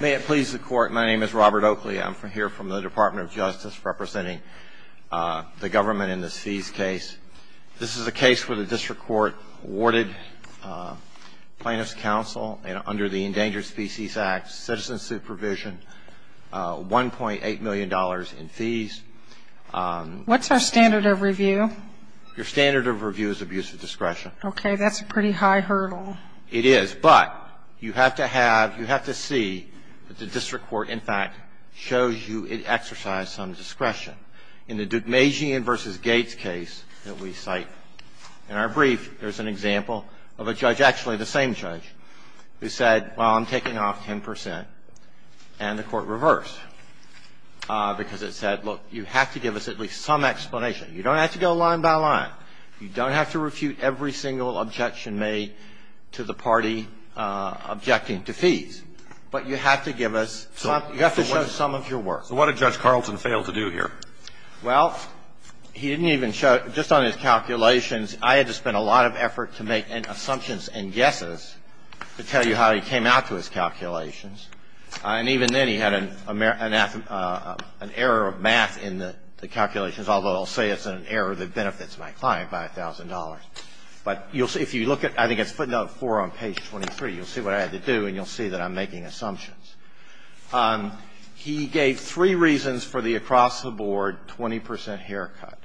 May it please the Court, my name is Robert Oakley. I'm here from the Department of Justice representing the government in this fees case. This is a case where the district court awarded Plaintiff's Counsel, under the Endangered Species Act, citizen supervision $1.8 million in fees. What's our standard of review? Your standard of review is abuse of discretion. Okay, that's a pretty high hurdle. It is, but you have to have, you have to see that the district court, in fact, shows you it exercised some discretion. In the Dugmasian v. Gates case that we cite in our brief, there's an example of a judge, actually the same judge, who said, well, I'm taking off 10 percent. And the Court reversed because it said, look, you have to give us at least some explanation. You don't have to go line by line. You don't have to refute every single objection made to the party objecting to fees. But you have to give us some, you have to show some of your work. So what did Judge Carlson fail to do here? Well, he didn't even show, just on his calculations, I had to spend a lot of effort to make assumptions and guesses to tell you how he came out to his calculations. And even then he had an error of math in the calculations, although I'll say it's an error that benefits my client. I'll say it benefits my client by $1,000. But you'll see, if you look at, I think it's footnote 4 on page 23, you'll see what I had to do and you'll see that I'm making assumptions. He gave three reasons for the across-the-board 20 percent haircut.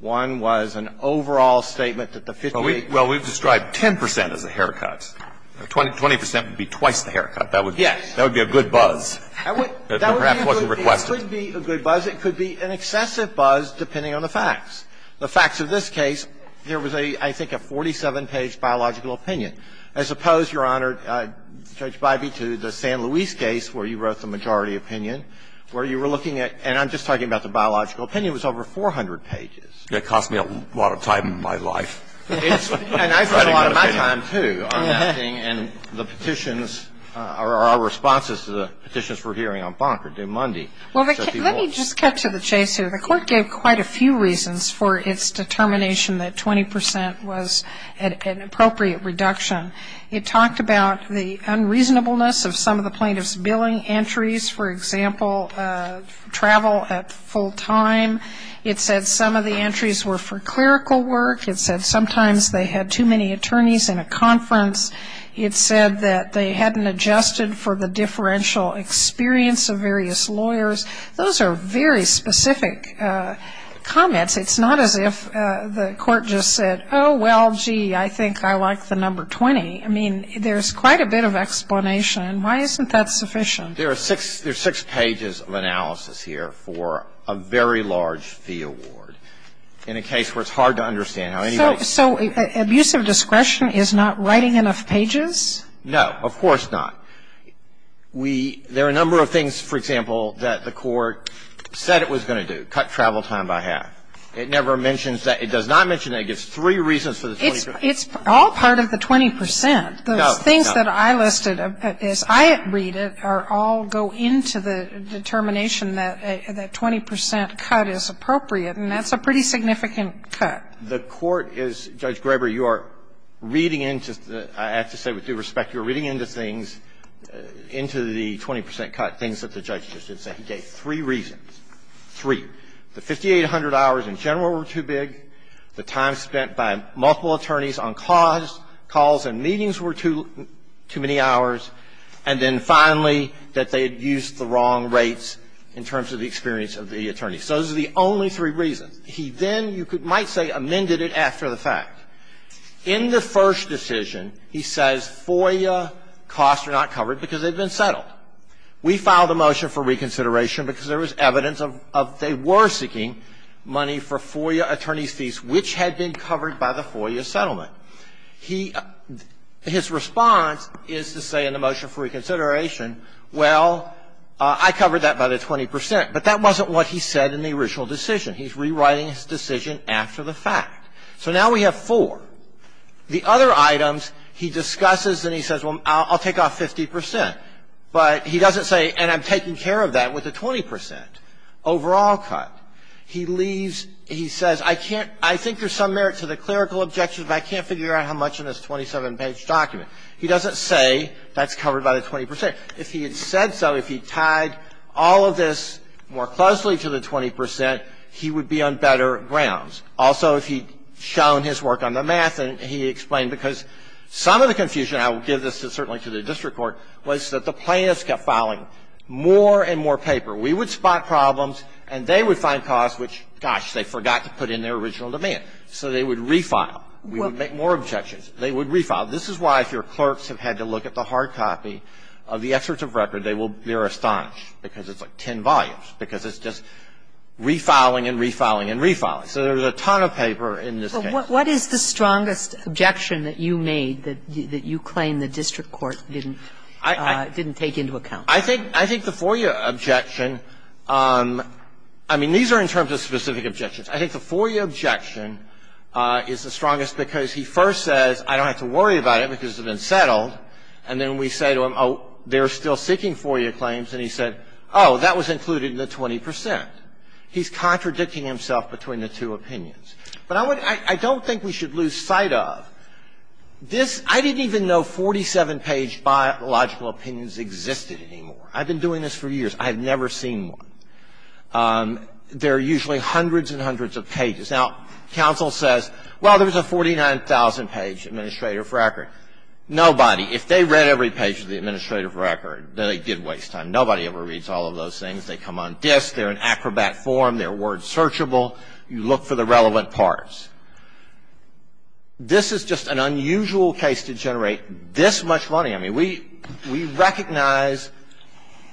One was an overall statement that the 58 percent. Well, we've described 10 percent as the haircuts. 20 percent would be twice the haircut. Yes. That would be a good buzz. That would be a good buzz. The other reason was it could be an excessive buzz depending on the facts. The facts of this case, there was a, I think, a 47-page biological opinion. I suppose, Your Honor, Judge Bybee, to the San Luis case where you wrote the majority opinion, where you were looking at, and I'm just talking about the biological opinion, was over 400 pages. It cost me a lot of time in my life. And I spent a lot of my time, too, on that thing and the petitions or our responses to the petitions we're hearing on Bonk or due Monday. Well, let me just cut to the chase here. The court gave quite a few reasons for its determination that 20 percent was an appropriate reduction. It talked about the unreasonableness of some of the plaintiff's billing entries. For example, travel at full time. It said some of the entries were for clerical work. It said sometimes they had too many attorneys in a conference. It said that they hadn't adjusted for the differential experience of various lawyers. Those are very specific comments. It's not as if the court just said, oh, well, gee, I think I like the number 20. I mean, there's quite a bit of explanation. Why isn't that sufficient? There are six pages of analysis here for a very large fee award in a case where it's hard to understand how anybody's So abusive discretion is not writing enough pages? No, of course not. We – there are a number of things, for example, that the court said it was going to do, cut travel time by half. It never mentions that. It does not mention that. It gives three reasons for the 20 percent. It's all part of the 20 percent. Those things that I listed as I read it are all go into the determination that that 20 percent cut is appropriate, and that's a pretty significant cut. The court is – Judge Greber, you are reading into – I have to say with due respect, you're reading into things, into the 20 percent cut, things that the judge just did say. He gave three reasons, three. The 5,800 hours in general were too big. The time spent by multiple attorneys on calls and meetings were too many hours. And then finally, that they had used the wrong rates in terms of the experience of the attorneys. So those are the only three reasons. He then, you might say, amended it after the fact. In the first decision, he says FOIA costs are not covered because they've been settled. We filed a motion for reconsideration because there was evidence of they were seeking money for FOIA attorneys' fees, which had been covered by the FOIA settlement. He – his response is to say in the motion for reconsideration, well, I covered that by the 20 percent. But that wasn't what he said in the original decision. He's rewriting his decision after the fact. So now we have four. The other items he discusses and he says, well, I'll take off 50 percent. But he doesn't say, and I'm taking care of that with the 20 percent overall cut. He leaves – he says, I can't – I think there's some merit to the clerical objections, but I can't figure out how much in this 27-page document. He doesn't say that's covered by the 20 percent. If he had said so, if he had tied all of this more closely to the 20 percent, he would be on better grounds. Also, if he'd shown his work on the math and he explained, because some of the confusion – I will give this certainly to the district court – was that the plaintiffs kept filing more and more paper. We would spot problems and they would find costs which, gosh, they forgot to put in their original demand. So they would refile. We would make more objections. They would refile. This is why, if your clerks have had to look at the hard copy of the excerpts of record, they will be astonished, because it's like ten volumes, because it's just refiling and refiling and refiling. So there's a ton of paper in this case. Kagan. But what is the strongest objection that you made that you claim the district court didn't take into account? I think the FOIA objection – I mean, these are in terms of specific objections. I think the FOIA objection is the strongest because he first says, I don't have to worry about it because it's been settled. And then we say to him, oh, they're still seeking FOIA claims. And he said, oh, that was included in the 20 percent. He's contradicting himself between the two opinions. But I don't think we should lose sight of this. I didn't even know 47-page biological opinions existed anymore. I've been doing this for years. I have never seen one. There are usually hundreds and hundreds of pages. Now, counsel says, well, there's a 49,000-page administrative record. Nobody, if they read every page of the administrative record, then they did waste time. Nobody ever reads all of those things. They come on disk. They're in acrobat form. They're word-searchable. You look for the relevant parts. This is just an unusual case to generate this much money. I mean, we recognize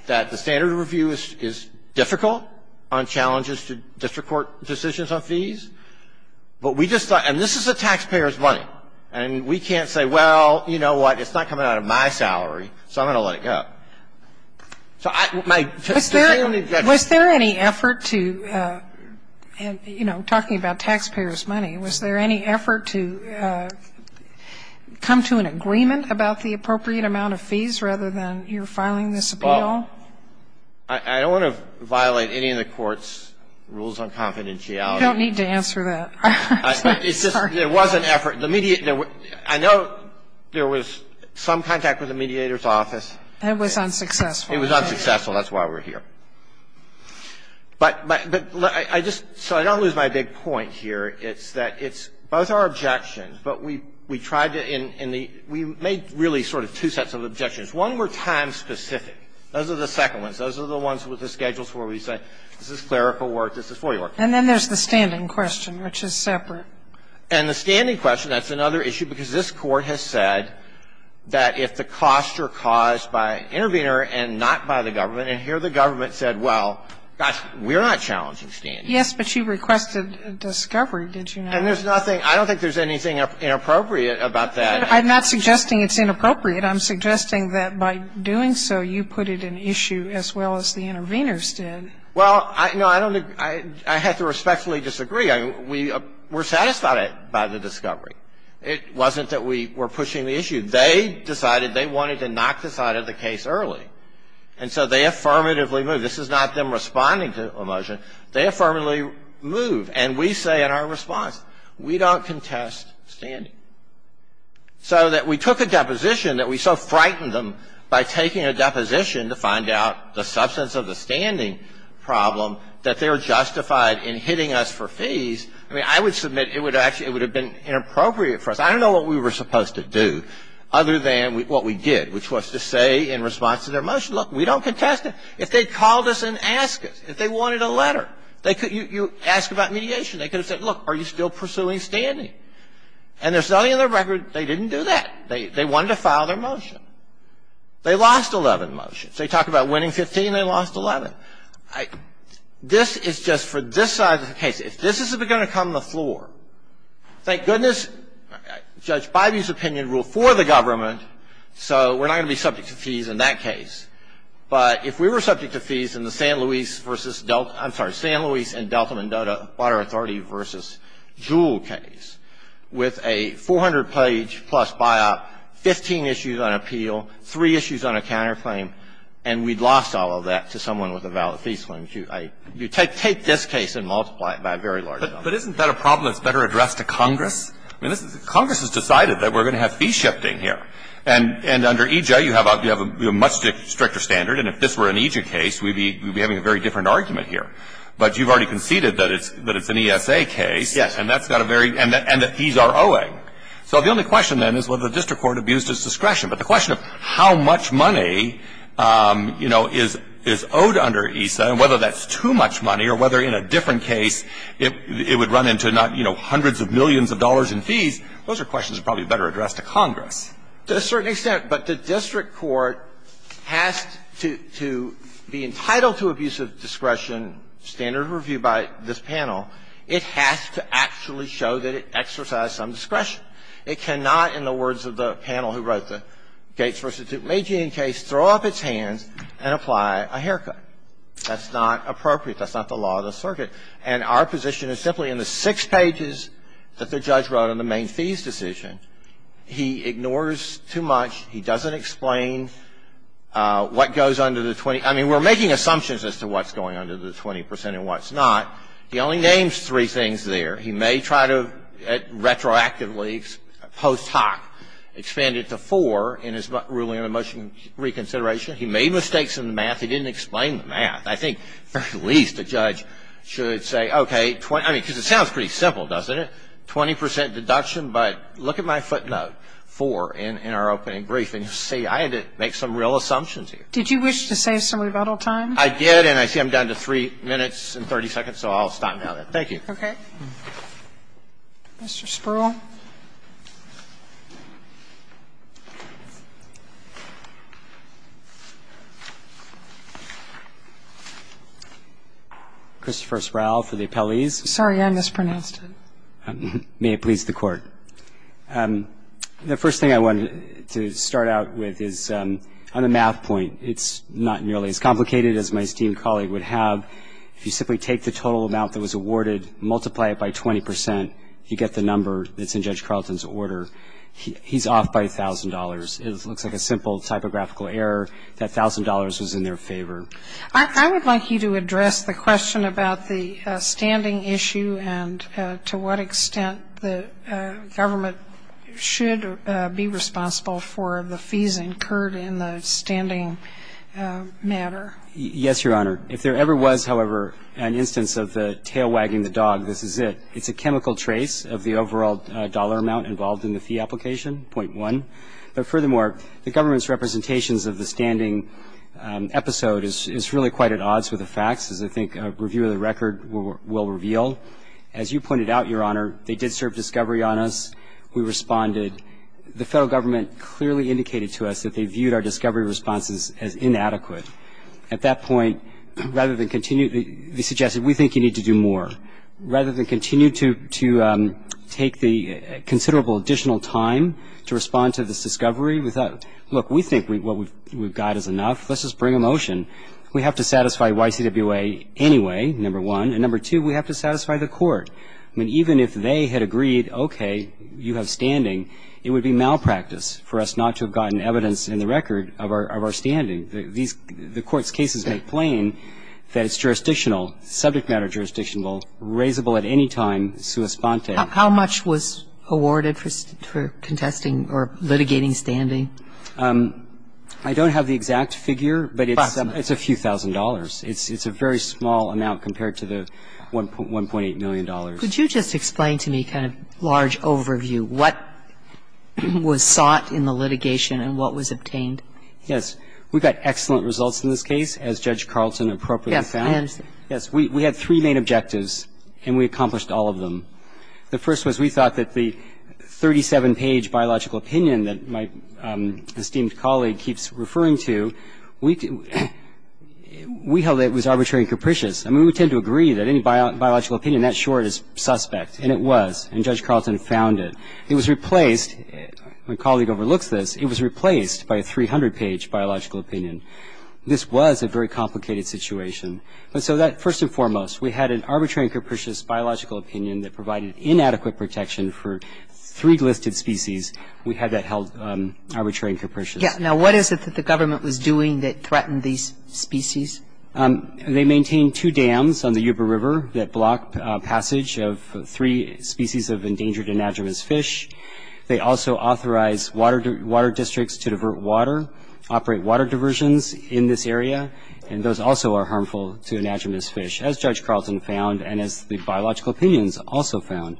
that the standard of review is difficult on challenges to district court decisions on fees. But we just thought, and this is the taxpayer's money. And we can't say, well, you know what? It's not coming out of my salary, so I'm going to let it go. So I don't need that. Was there any effort to, you know, talking about taxpayer's money, was there any effort to come to an agreement about the appropriate amount of fees rather than your filing this appeal? Well, I don't want to violate any of the Court's rules on confidentiality. You don't need to answer that. I'm sorry. It's just there was an effort. I know there was some contact with the mediator's office. That was unsuccessful. It was unsuccessful. That's why we're here. But I just so I don't lose my big point here. It's that it's both our objections, but we tried to in the we made really sort of two sets of objections. One were time-specific. Those are the second ones. Those are the ones with the schedules where we say this is clerical work, this is FOIA work. And then there's the standing question, which is separate. And the standing question, that's another issue, because this Court has said that if the costs are caused by an intervener and not by the government, and here the government said, well, gosh, we're not challenging standing. Yes, but you requested discovery, did you not? And there's nothing – I don't think there's anything inappropriate about that. I'm not suggesting it's inappropriate. I'm suggesting that by doing so, you put it in issue as well as the interveners did. Well, no, I don't – I have to respectfully disagree. I mean, we were satisfied by the discovery. It wasn't that we were pushing the issue. They decided they wanted to knock this out of the case early. And so they affirmatively moved. This is not them responding to a motion. They affirmatively moved. And we say in our response, we don't contest standing. So that we took a deposition that we so frightened them by taking a deposition to find out the substance of the standing problem, that they're justified in hitting us for fees. I mean, I would submit it would actually – it would have been inappropriate for us. I don't know what we were supposed to do other than what we did, which was to say in response to their motion, look, we don't contest it. If they called us and asked us, if they wanted a letter, they could – you ask about mediation. They could have said, look, are you still pursuing standing? And there's nothing in their record. They didn't do that. They wanted to file their motion. They lost 11 motions. They talk about winning 15. They lost 11. This is just for this side of the case. If this is going to come to the floor, thank goodness Judge Bybee's opinion ruled for the government, so we're not going to be subject to fees in that case. But if we were subject to fees in the San Luis versus – I'm sorry, San Luis and Delta Mendoza Water Authority versus Jewell case, with a 400-page plus buyout, 15 issues on appeal, three issues on a counterclaim, and we lost all of that to someone with a valid fee claim, you take this case and multiply it by a very large number. But isn't that a problem that's better addressed to Congress? I mean, Congress has decided that we're going to have fee shifting here. And under EJ, you have a much stricter standard. And if this were an EJ case, we'd be having a very different argument here. But you've already conceded that it's an ESA case. Yes. And that's got a very – and that fees are owing. So the only question, then, is whether the district court abused its discretion. But the question of how much money, you know, is owed under ESA and whether that's too much money or whether in a different case it would run into, you know, hundreds of millions of dollars in fees, those are questions that are probably better addressed to Congress. To a certain extent. But the district court has to be entitled to abuse of discretion, standard of review by this panel. It has to actually show that it exercised some discretion. It cannot, in the words of the panel who wrote the Gates v. Duke Magian case, throw off its hands and apply a haircut. That's not appropriate. That's not the law of the circuit. And our position is simply in the six pages that the judge wrote on the main fees decision. He ignores too much. He doesn't explain what goes under the 20. I mean, we're making assumptions as to what's going under the 20 percent and what's not. He only names three things there. He may try to retroactively post hoc expand it to four in his ruling on emotion reconsideration. He made mistakes in the math. He didn't explain the math. I think at least a judge should say, okay, 20 – I mean, because it sounds pretty simple, doesn't it? 20 percent deduction, but look at my footnote, four, in our opening brief. And you'll see I had to make some real assumptions here. Did you wish to save some rebuttal time? I did, and I see I'm down to three minutes and 30 seconds, so I'll stop now then. Thank you. Okay. Mr. Spruill. Christopher Sprouill for the appellees. Sorry, I mispronounced it. May it please the Court. The first thing I wanted to start out with is on a math point, it's not nearly as complicated as my esteemed colleague would have. If you simply take the total amount that was awarded, multiply it by 20 percent, you get the number that's in Judge Carleton's order. He's off by $1,000. It looks like a simple typographical error that $1,000 was in their favor. I would like you to address the question about the standing issue and to what extent the government should be responsible for the fees incurred in the standing matter. Yes, Your Honor. If there ever was, however, an instance of the tail wagging the dog, this is it. It's a chemical trace of the overall dollar amount involved in the fee application, .1. But furthermore, the government's representations of the standing episode is really quite at odds with the facts, as I think a review of the record will reveal. As you pointed out, Your Honor, they did serve discovery on us. We responded. The Federal Government clearly indicated to us that they viewed our discovery responses as inadequate. At that point, rather than continue, they suggested we think you need to do more. Rather than continue to take the considerable additional time to respond to this discovery, we thought, look, we think what we've got is enough. Let's just bring a motion. We have to satisfy YCWA anyway, number one. And number two, we have to satisfy the court. I mean, even if they had agreed, okay, you have standing, it would be malpractice for us not to have gotten evidence in the record of our standing. The court's cases make plain that it's jurisdictional, subject matter jurisdictional, and it's a case that would be reasonable, raisable at any time, sua sponte. How much was awarded for contesting or litigating standing? I don't have the exact figure. But it's a few thousand dollars. It's a very small amount compared to the $1.8 million. Could you just explain to me kind of large overview, what was sought in the litigation and what was obtained? Yes. We got excellent results in this case, as Judge Carlton appropriately found. Yes, I understand. Yes. We had three main objectives, and we accomplished all of them. The first was we thought that the 37-page biological opinion that my esteemed colleague keeps referring to, we held that it was arbitrary and capricious. I mean, we tend to agree that any biological opinion that short is suspect, and it was. And Judge Carlton found it. It was replaced, my colleague overlooks this, it was replaced by a 300-page biological opinion. This was a very complicated situation. And so that first and foremost, we had an arbitrary and capricious biological opinion that provided inadequate protection for three listed species. We had that held arbitrary and capricious. Yes. Now, what is it that the government was doing that threatened these species? They maintained two dams on the Yuba River that blocked passage of three species of endangered anadromous fish. They also authorized water districts to divert water, operate water diversions in this area, and those also are harmful to anadromous fish, as Judge Carlton found and as the biological opinions also found.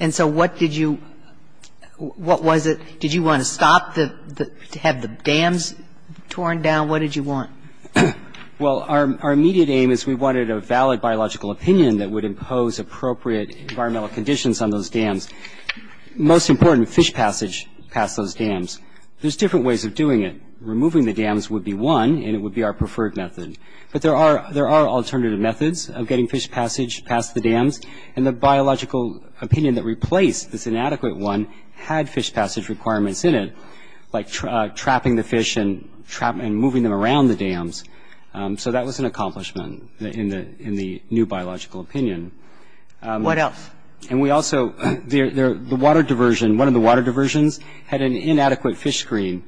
And so what did you – what was it? Did you want to stop the – have the dams torn down? What did you want? Well, our immediate aim is we wanted a valid biological opinion that would impose appropriate environmental conditions on those dams. Most important, fish passage past those dams. There's different ways of doing it. Removing the dams would be one, and it would be our preferred method. But there are alternative methods of getting fish passage past the dams, and the biological opinion that replaced this inadequate one had fish passage requirements in it, like trapping the fish and moving them around the dams. So that was an accomplishment in the new biological opinion. What else? And we also – the water diversion – one of the water diversions had an inadequate fish screen.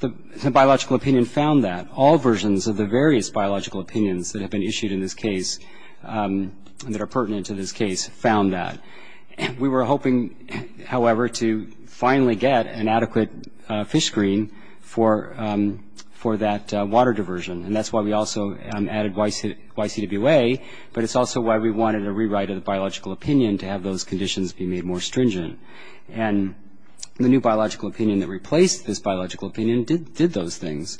The biological opinion found that. All versions of the various biological opinions that have been issued in this case that are pertinent to this case found that. We were hoping, however, to finally get an adequate fish screen for that water diversion, and that's why we also added YCWA, but it's also why we wanted a rewrite of the biological opinion to have those conditions be made more stringent. And the new biological opinion that replaced this biological opinion did those things.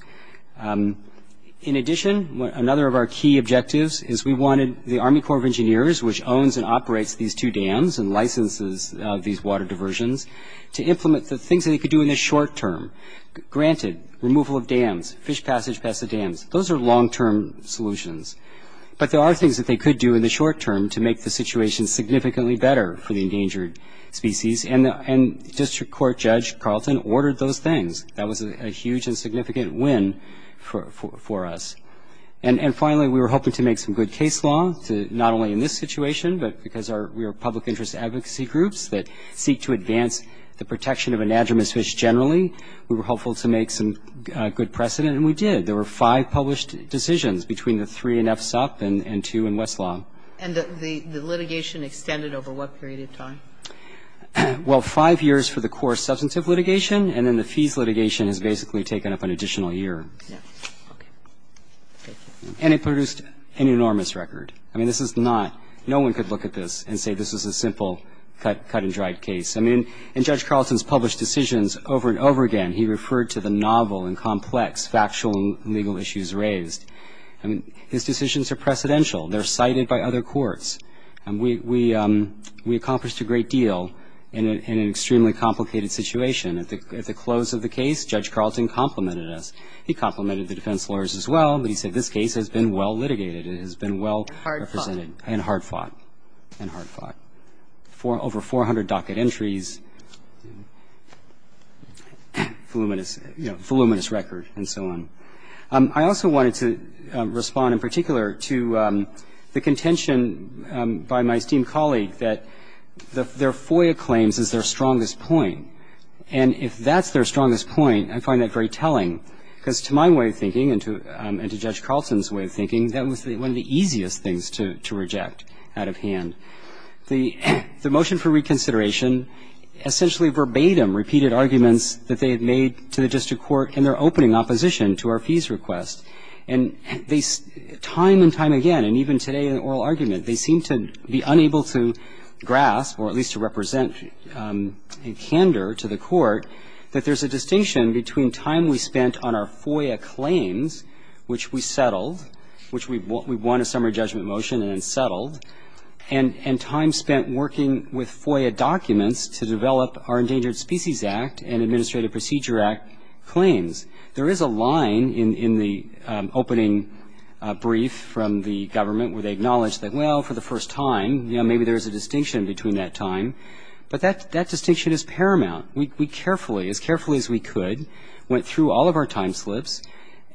In addition, another of our key objectives is we wanted the Army Corps of Engineers, which owns and operates these two dams and licenses these water diversions, to implement the things that they could do in the short term. Granted, removal of dams, fish passage past the dams, those are long-term solutions, but there are things that they could do in the short term to make the situation significantly better for the endangered species, and District Court Judge Carlton ordered those things. That was a huge and significant win for us. And finally, we were hoping to make some good case law, not only in this situation, but because we are public interest advocacy groups that seek to advance the protection of anadromous fish generally. We were hopeful to make some good precedent, and we did. There were five published decisions between the three in FSUP and two in Westlaw. And the litigation extended over what period of time? Well, five years for the core substantive litigation, and then the fees litigation has basically taken up an additional year. Yes. Okay. And it produced an enormous record. I mean, this is not no one could look at this and say this is a simple cut and dried case. I mean, in Judge Carlton's published decisions over and over again, he referred to the novel and complex factual and legal issues raised. I mean, his decisions are precedential. They're cited by other courts. And we accomplished a great deal in an extremely complicated situation. At the close of the case, Judge Carlton complimented us. He complimented the defense lawyers as well, but he said this case has been well litigated. It has been well represented. And hard fought. And hard fought. And hard fought. And we have over 400 docket entries, voluminous record, and so on. I also wanted to respond in particular to the contention by my esteemed colleague that their FOIA claims is their strongest point. And if that's their strongest point, I find that very telling, because to my way of thinking and to Judge Carlton's way of thinking, that was one of the easiest things to reject out of hand. The motion for reconsideration essentially verbatim repeated arguments that they had made to the district court in their opening opposition to our fees request. And they time and time again, and even today in oral argument, they seem to be unable to grasp or at least to represent a candor to the court that there's a distinction between time we spent on our FOIA claims, which we settled, which we won a summary judgment motion and then settled, and time spent working with FOIA documents to develop our Endangered Species Act and Administrative Procedure Act claims. There is a line in the opening brief from the government where they acknowledge that, well, for the first time, you know, maybe there's a distinction between that time. But that distinction is paramount. We carefully, as carefully as we could, went through all of our time slips.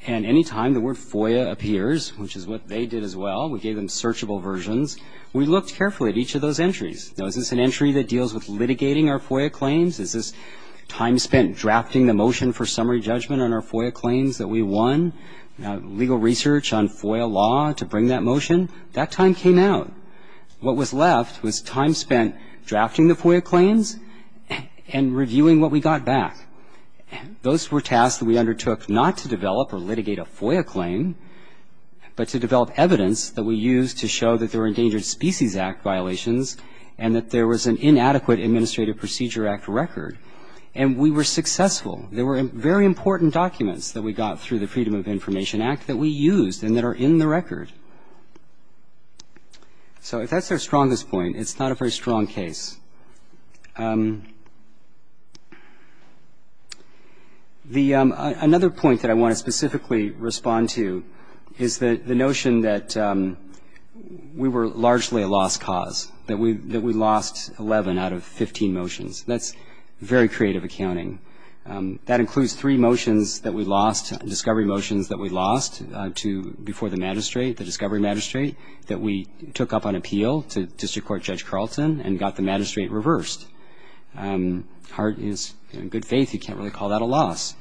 And any time the word FOIA appears, which is what they did as well, we gave them searchable versions, we looked carefully at each of those entries. Now, is this an entry that deals with litigating our FOIA claims? Is this time spent drafting the motion for summary judgment on our FOIA claims that we won, legal research on FOIA law to bring that motion? That time came out. What was left was time spent drafting the FOIA claims and reviewing what we got back. Those were tasks that we undertook not to develop or litigate a FOIA claim, but to develop evidence that we used to show that there were Endangered Species Act violations and that there was an inadequate Administrative Procedure Act record. And we were successful. There were very important documents that we got through the Freedom of Information Act that we used and that are in the record. So if that's their strongest point, it's not a very strong case. Another point that I want to specifically respond to is the notion that we were largely a lost cause, that we lost 11 out of 15 motions. That's very creative accounting. That includes three motions that we lost, discovery motions that we lost before the magistrate, the discovery magistrate, that we took up on appeal to District Court Judge Carlton and got the magistrate reversed. Hart is in good faith he can't really call that a loss.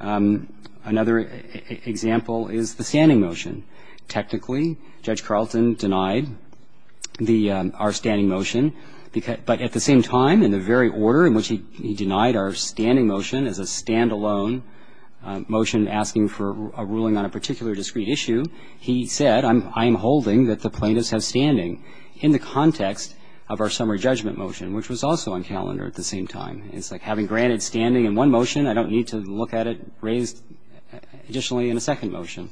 Another example is the standing motion. Technically, Judge Carlton denied our standing motion, but at the same time, in the very order in which he denied our standing motion as a stand-alone motion asking for a ruling on a particular discrete issue, he said, I'm holding that the plaintiffs have standing in the context of our summary judgment motion, which was also on calendar at the same time. It's like having granted standing in one motion, I don't need to look at it raised additionally in a second motion.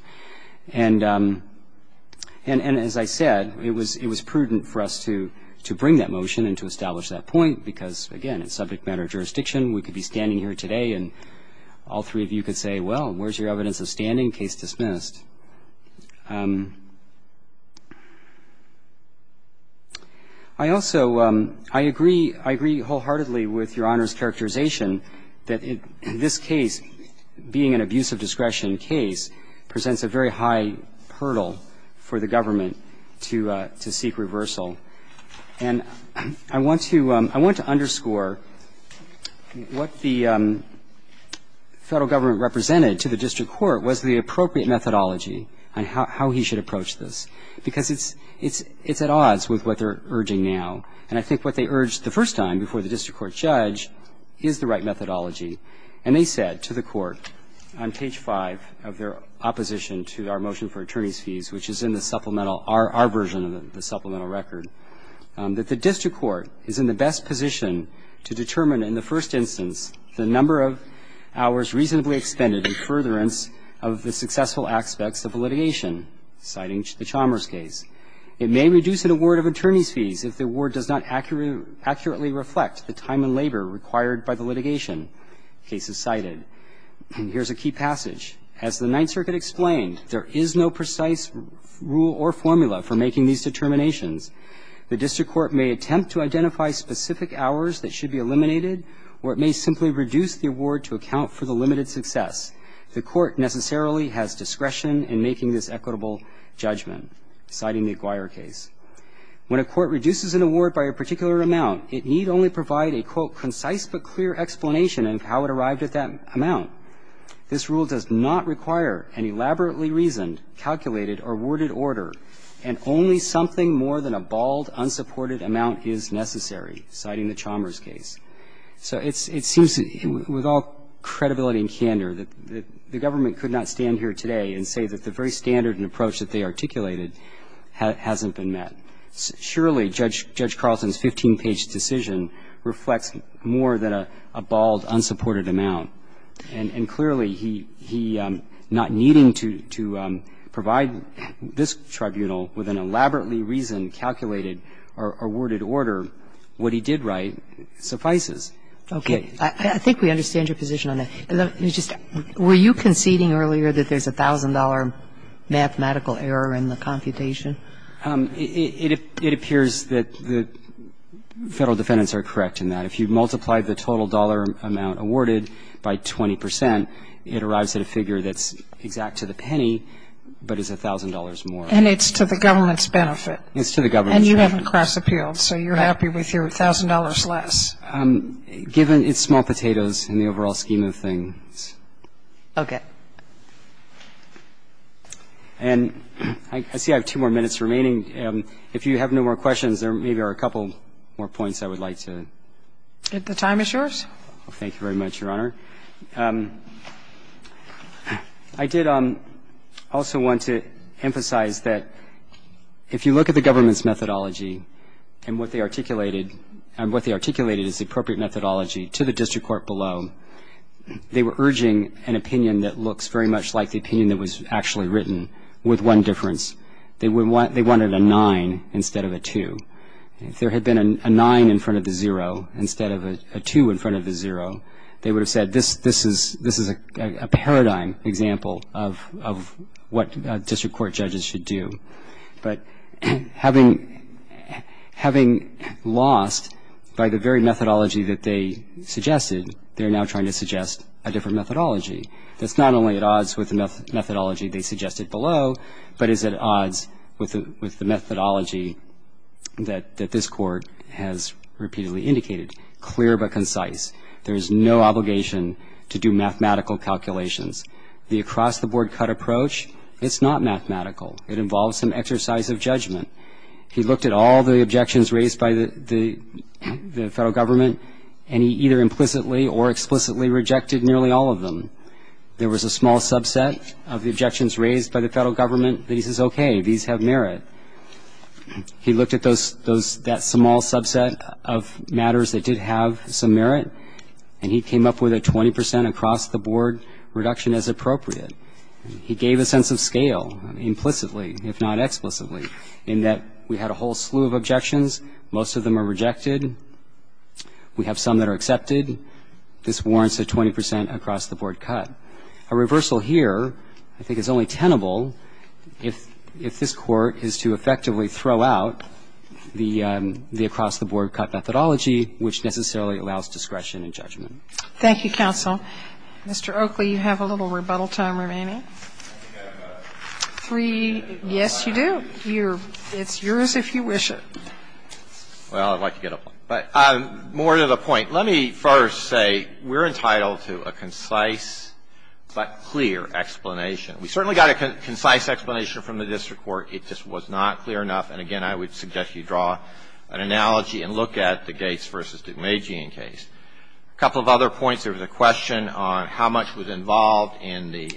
And as I said, it was prudent for us to bring that motion and to establish that point because, again, it's subject matter of jurisdiction. We could be standing here today and all three of you could say, well, where's your evidence of standing? Case dismissed. I also agree wholeheartedly with Your Honor's characterization that this case, being an abuse of discretion case, presents a very high hurdle for the government to seek reversal. And I want to underscore what the Federal Government represented to the district court was the appropriate methodology on how he should approach this, because it's at odds with what they're urging now. And I think what they urged the first time before the district court judge is the right methodology. And they said to the court on page 5 of their opposition to our motion for attorneys' record that the district court is in the best position to determine in the first instance the number of hours reasonably expended in furtherance of the successful aspects of a litigation, citing the Chalmers case. It may reduce an award of attorneys' fees if the award does not accurately reflect the time and labor required by the litigation cases cited. And here's a key passage. As the Ninth Circuit explained, there is no precise rule or formula for making these determinations. The district court may attempt to identify specific hours that should be eliminated, or it may simply reduce the award to account for the limited success. The court necessarily has discretion in making this equitable judgment, citing the Acquire case. When a court reduces an award by a particular amount, it need only provide a, quote, concise but clear explanation of how it arrived at that amount. This rule does not require an elaborately reasoned, calculated, or worded order, and only something more than a bald, unsupported amount is necessary, citing the Chalmers case. So it seems, with all credibility and candor, that the government could not stand here today and say that the very standard and approach that they articulated hasn't been met. Surely, Judge Carlson's 15-page decision reflects more than a bald, unsupported amount. And clearly, he not needing to provide this tribunal with an elaborately reasoned, calculated, or worded order, what he did write suffices. Okay. I think we understand your position on that. Were you conceding earlier that there's a $1,000 mathematical error in the computation? It appears that the Federal defendants are correct in that. If you multiply the total dollar amount awarded by 20 percent, it arrives at a figure that's exact to the penny but is $1,000 more. And it's to the government's benefit. It's to the government's benefit. And you haven't cross-appealed, so you're happy with your $1,000 less. Given it's small potatoes in the overall scheme of things. Okay. And I see I have two more minutes remaining. If you have no more questions, there maybe are a couple more points I would like to make. If the time is yours. Thank you very much, Your Honor. I did also want to emphasize that if you look at the government's methodology and what they articulated, and what they articulated is the appropriate methodology to the district court below, they were urging an opinion that looks very much like the opinion that was actually written with one difference. They wanted a 9 instead of a 2. If there had been a 9 in front of the 0 instead of a 2 in front of the 0, they would have said this is a paradigm example of what district court judges should do. But having lost by the very methodology that they suggested, they're now trying to suggest a different methodology that's not only at odds with the methodology they suggested below, but is at odds with the methodology that this court has repeatedly indicated, clear but concise. There is no obligation to do mathematical calculations. The across-the-board cut approach, it's not mathematical. It involves some exercise of judgment. He looked at all the objections raised by the federal government, and he either implicitly or explicitly rejected nearly all of them. There was a small subset of the objections raised by the federal government that he says, okay, these have merit. He looked at that small subset of matters that did have some merit, and he came up with a 20 percent across-the-board reduction as appropriate. He gave a sense of scale implicitly, if not explicitly, in that we had a whole slew of objections. Most of them are rejected. We have some that are accepted. This warrants a 20 percent across-the-board cut. A reversal here, I think, is only tenable if this Court is to effectively throw out the across-the-board cut methodology, which necessarily allows discretion in judgment. Thank you, counsel. Mr. Oakley, you have a little rebuttal time remaining. Three. Yes, you do. It's yours if you wish it. Well, I'd like to get a point. But more to the point. Let me first say we're entitled to a concise but clear explanation. We certainly got a concise explanation from the district court. It just was not clear enough. And, again, I would suggest you draw an analogy and look at the Gates v. Dumejian case. A couple of other points. There was a question on how much was involved in the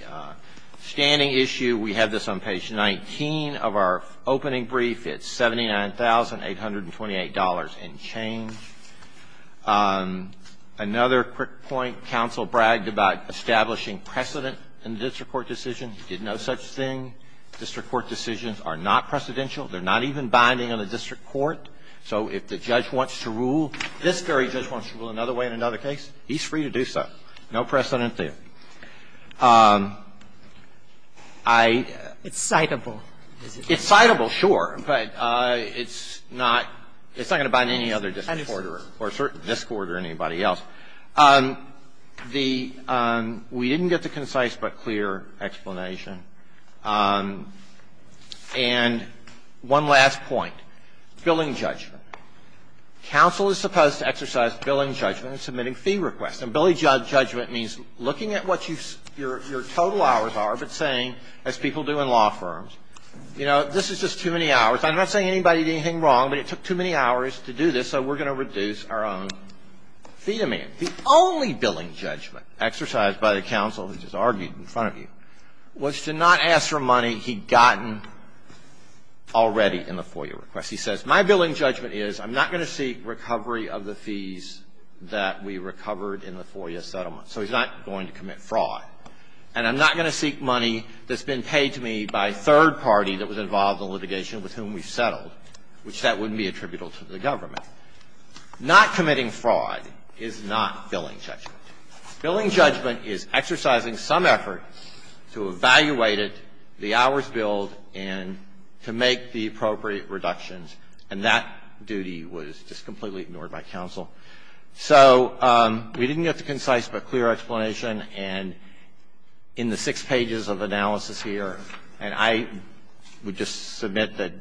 standing issue. We have this on page 19 of our opening brief. It's $79,828 and change. Another quick point. Counsel bragged about establishing precedent in the district court decision. Did no such thing. District court decisions are not precedential. They're not even binding on the district court. So if the judge wants to rule, this very judge wants to rule another way in another case, he's free to do so. No precedent there. I ---- It's citable. It's citable, sure. But it's not going to bind any other district court or a certain district court or anybody else. The ---- we didn't get the concise but clear explanation. And one last point. Billing judgment. Counsel is supposed to exercise billing judgment in submitting fee requests. And billing judgment means looking at what your total hours are but saying, as people do in law firms, you know, this is just too many hours. I'm not saying anybody did anything wrong, but it took too many hours to do this, so we're going to reduce our own fee demand. The only billing judgment exercised by the counsel, which is argued in front of you, was to not ask for money he'd gotten already in the FOIA request. He says, my billing judgment is I'm not going to seek recovery of the fees that we recovered in the FOIA settlement. So he's not going to commit fraud. And I'm not going to seek money that's been paid to me by a third party that was involved in litigation with whom we settled, which that wouldn't be attributable to the government. Not committing fraud is not billing judgment. Billing judgment is exercising some effort to evaluate it, the hours billed, and to make the appropriate reductions. And that duty was just completely ignored by counsel. So we didn't get the concise but clear explanation, and in the six pages of analysis here, and I would just submit that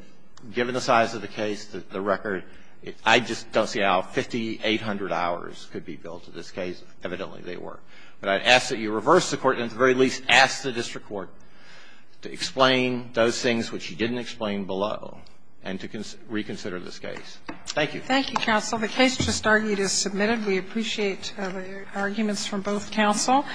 given the size of the case, the record, I just don't see how 5,800 hours could be billed to this case. Evidently, they were. But I'd ask that you reverse the Court, and at the very least ask the district court to explain those things which you didn't explain below and to reconsider this case. Thank you. Thank you, counsel. The case just argued is submitted. We appreciate the arguments from both counsel.